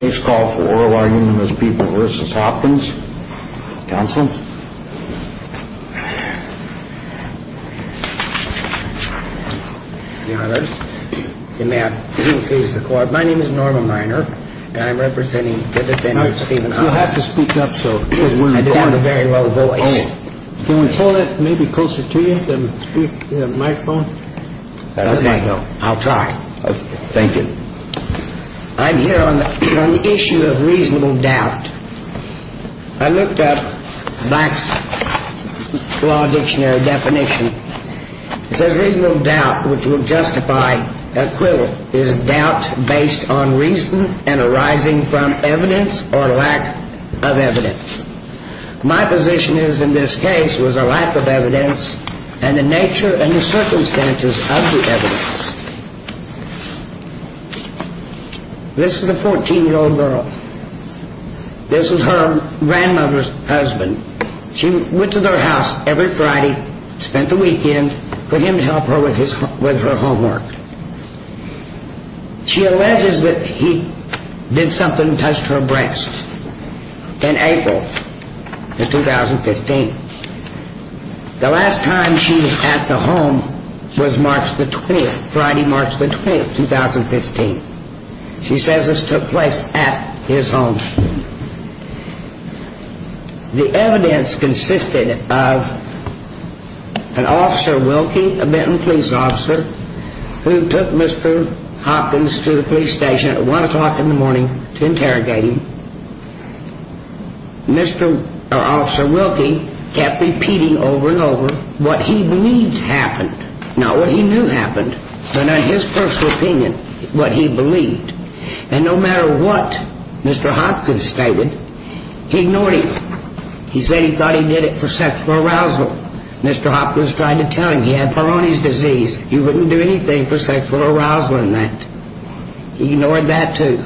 Please call for oral argument as people v. Hopkins. Counselor? My name is Norma Miner, and I'm representing the defendant, Stephen Hopkins. You'll have to speak up, because we're recording. I do have a very low voice. Can we pull it maybe closer to you, the microphone? I'll try. Thank you. I'm here on the issue of reasonable doubt. I looked up Black's Law Dictionary definition. It says reasonable doubt, which will justify equivalent, is doubt based on reason and arising from evidence or lack of evidence. My position is, in this case, was a lack of evidence and the nature and the circumstances of the evidence. This is a 14-year-old girl. This is her grandmother's husband. She went to their house every Friday, spent the weekend, for him to help her with her homework. She alleges that he did something and touched her breasts in April of 2015. The last time she was at the home was March the 20th, Friday, March the 20th, 2015. She says this took place at his home. The evidence consisted of an officer, Wilkie, a Benton police officer, who took Mr. Hopkins to the police station at 1 o'clock in the morning to interrogate him. Officer Wilkie kept repeating over and over what he believed happened, not what he knew happened, but in his personal opinion, what he believed. And no matter what Mr. Hopkins stated, he ignored him. He said he thought he did it for sexual arousal. Mr. Hopkins tried to tell him he had Peyronie's disease. He wouldn't do anything for sexual arousal in that. He ignored that, too.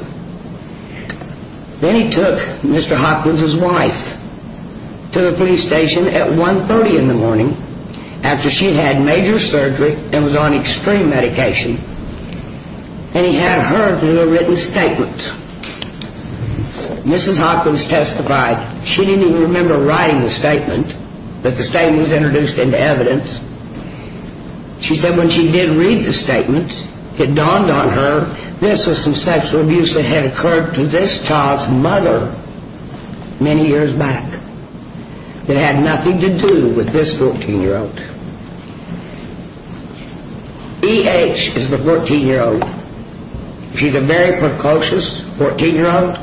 Then he took Mr. Hopkins' wife to the police station at 1.30 in the morning, after she'd had major surgery and was on extreme medication. And he had her do a written statement. Mrs. Hopkins testified. She didn't even remember writing the statement, but the statement was introduced into evidence. She said when she did read the statement, it dawned on her this was some sexual abuse that had occurred to this child's mother many years back. It had nothing to do with this 14-year-old. E.H. is the 14-year-old. She's a very precocious 14-year-old,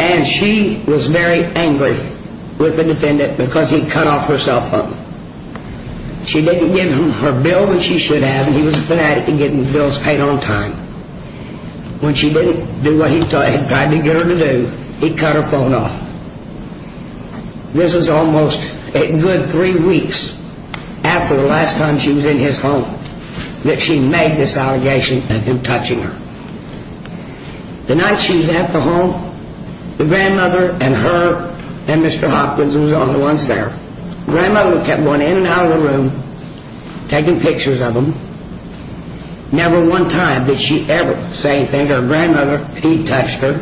and she was very angry with the defendant because he cut off her cell phone. She didn't give him her bill that she should have, and he was a fanatic of getting bills paid on time. When she didn't do what he had tried to get her to do, he cut her phone off. This is almost a good three weeks after the last time she was in his home that she made this allegation of him touching her. The night she was at the home, the grandmother and her and Mr. Hopkins were the only ones there. The grandmother kept going in and out of the room, taking pictures of him. Never one time did she ever say anything to her grandmother. He touched her.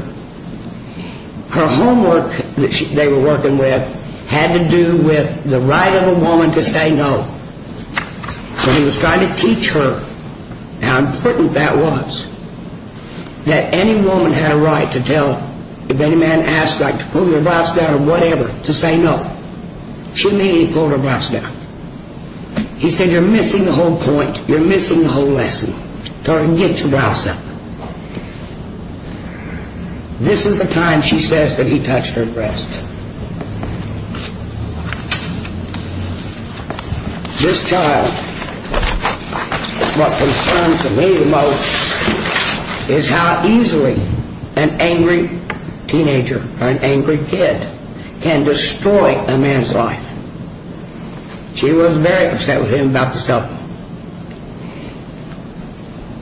Her homework that they were working with had to do with the right of a woman to say no. When he was trying to teach her how important that was, that any woman had a right to tell, if any man asked her to pull her brows down or whatever, to say no. She immediately pulled her brows down. He said, you're missing the whole point. You're missing the whole lesson. Get your brows up. This is the time she says that he touched her breast. This child, what concerns me the most, is how easily an angry teenager or an angry kid can destroy a man's life. She was very upset with him about the cell phone.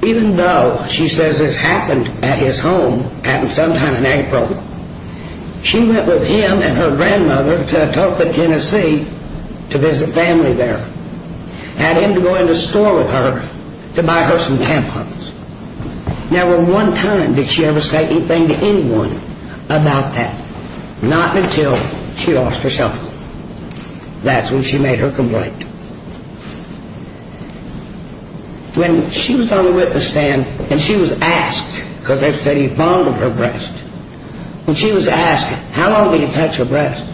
Even though, she says, this happened at his home, happened sometime in April, she went with him and her grandmother to Topeka, Tennessee to visit family there. Had him to go in the store with her to buy her some tampons. Never one time did she ever say anything to anyone about that. Not until she lost her cell phone. That's when she made her complaint. When she was on the witness stand and she was asked, because they said he bonded her breast. When she was asked, how long will you touch her breast?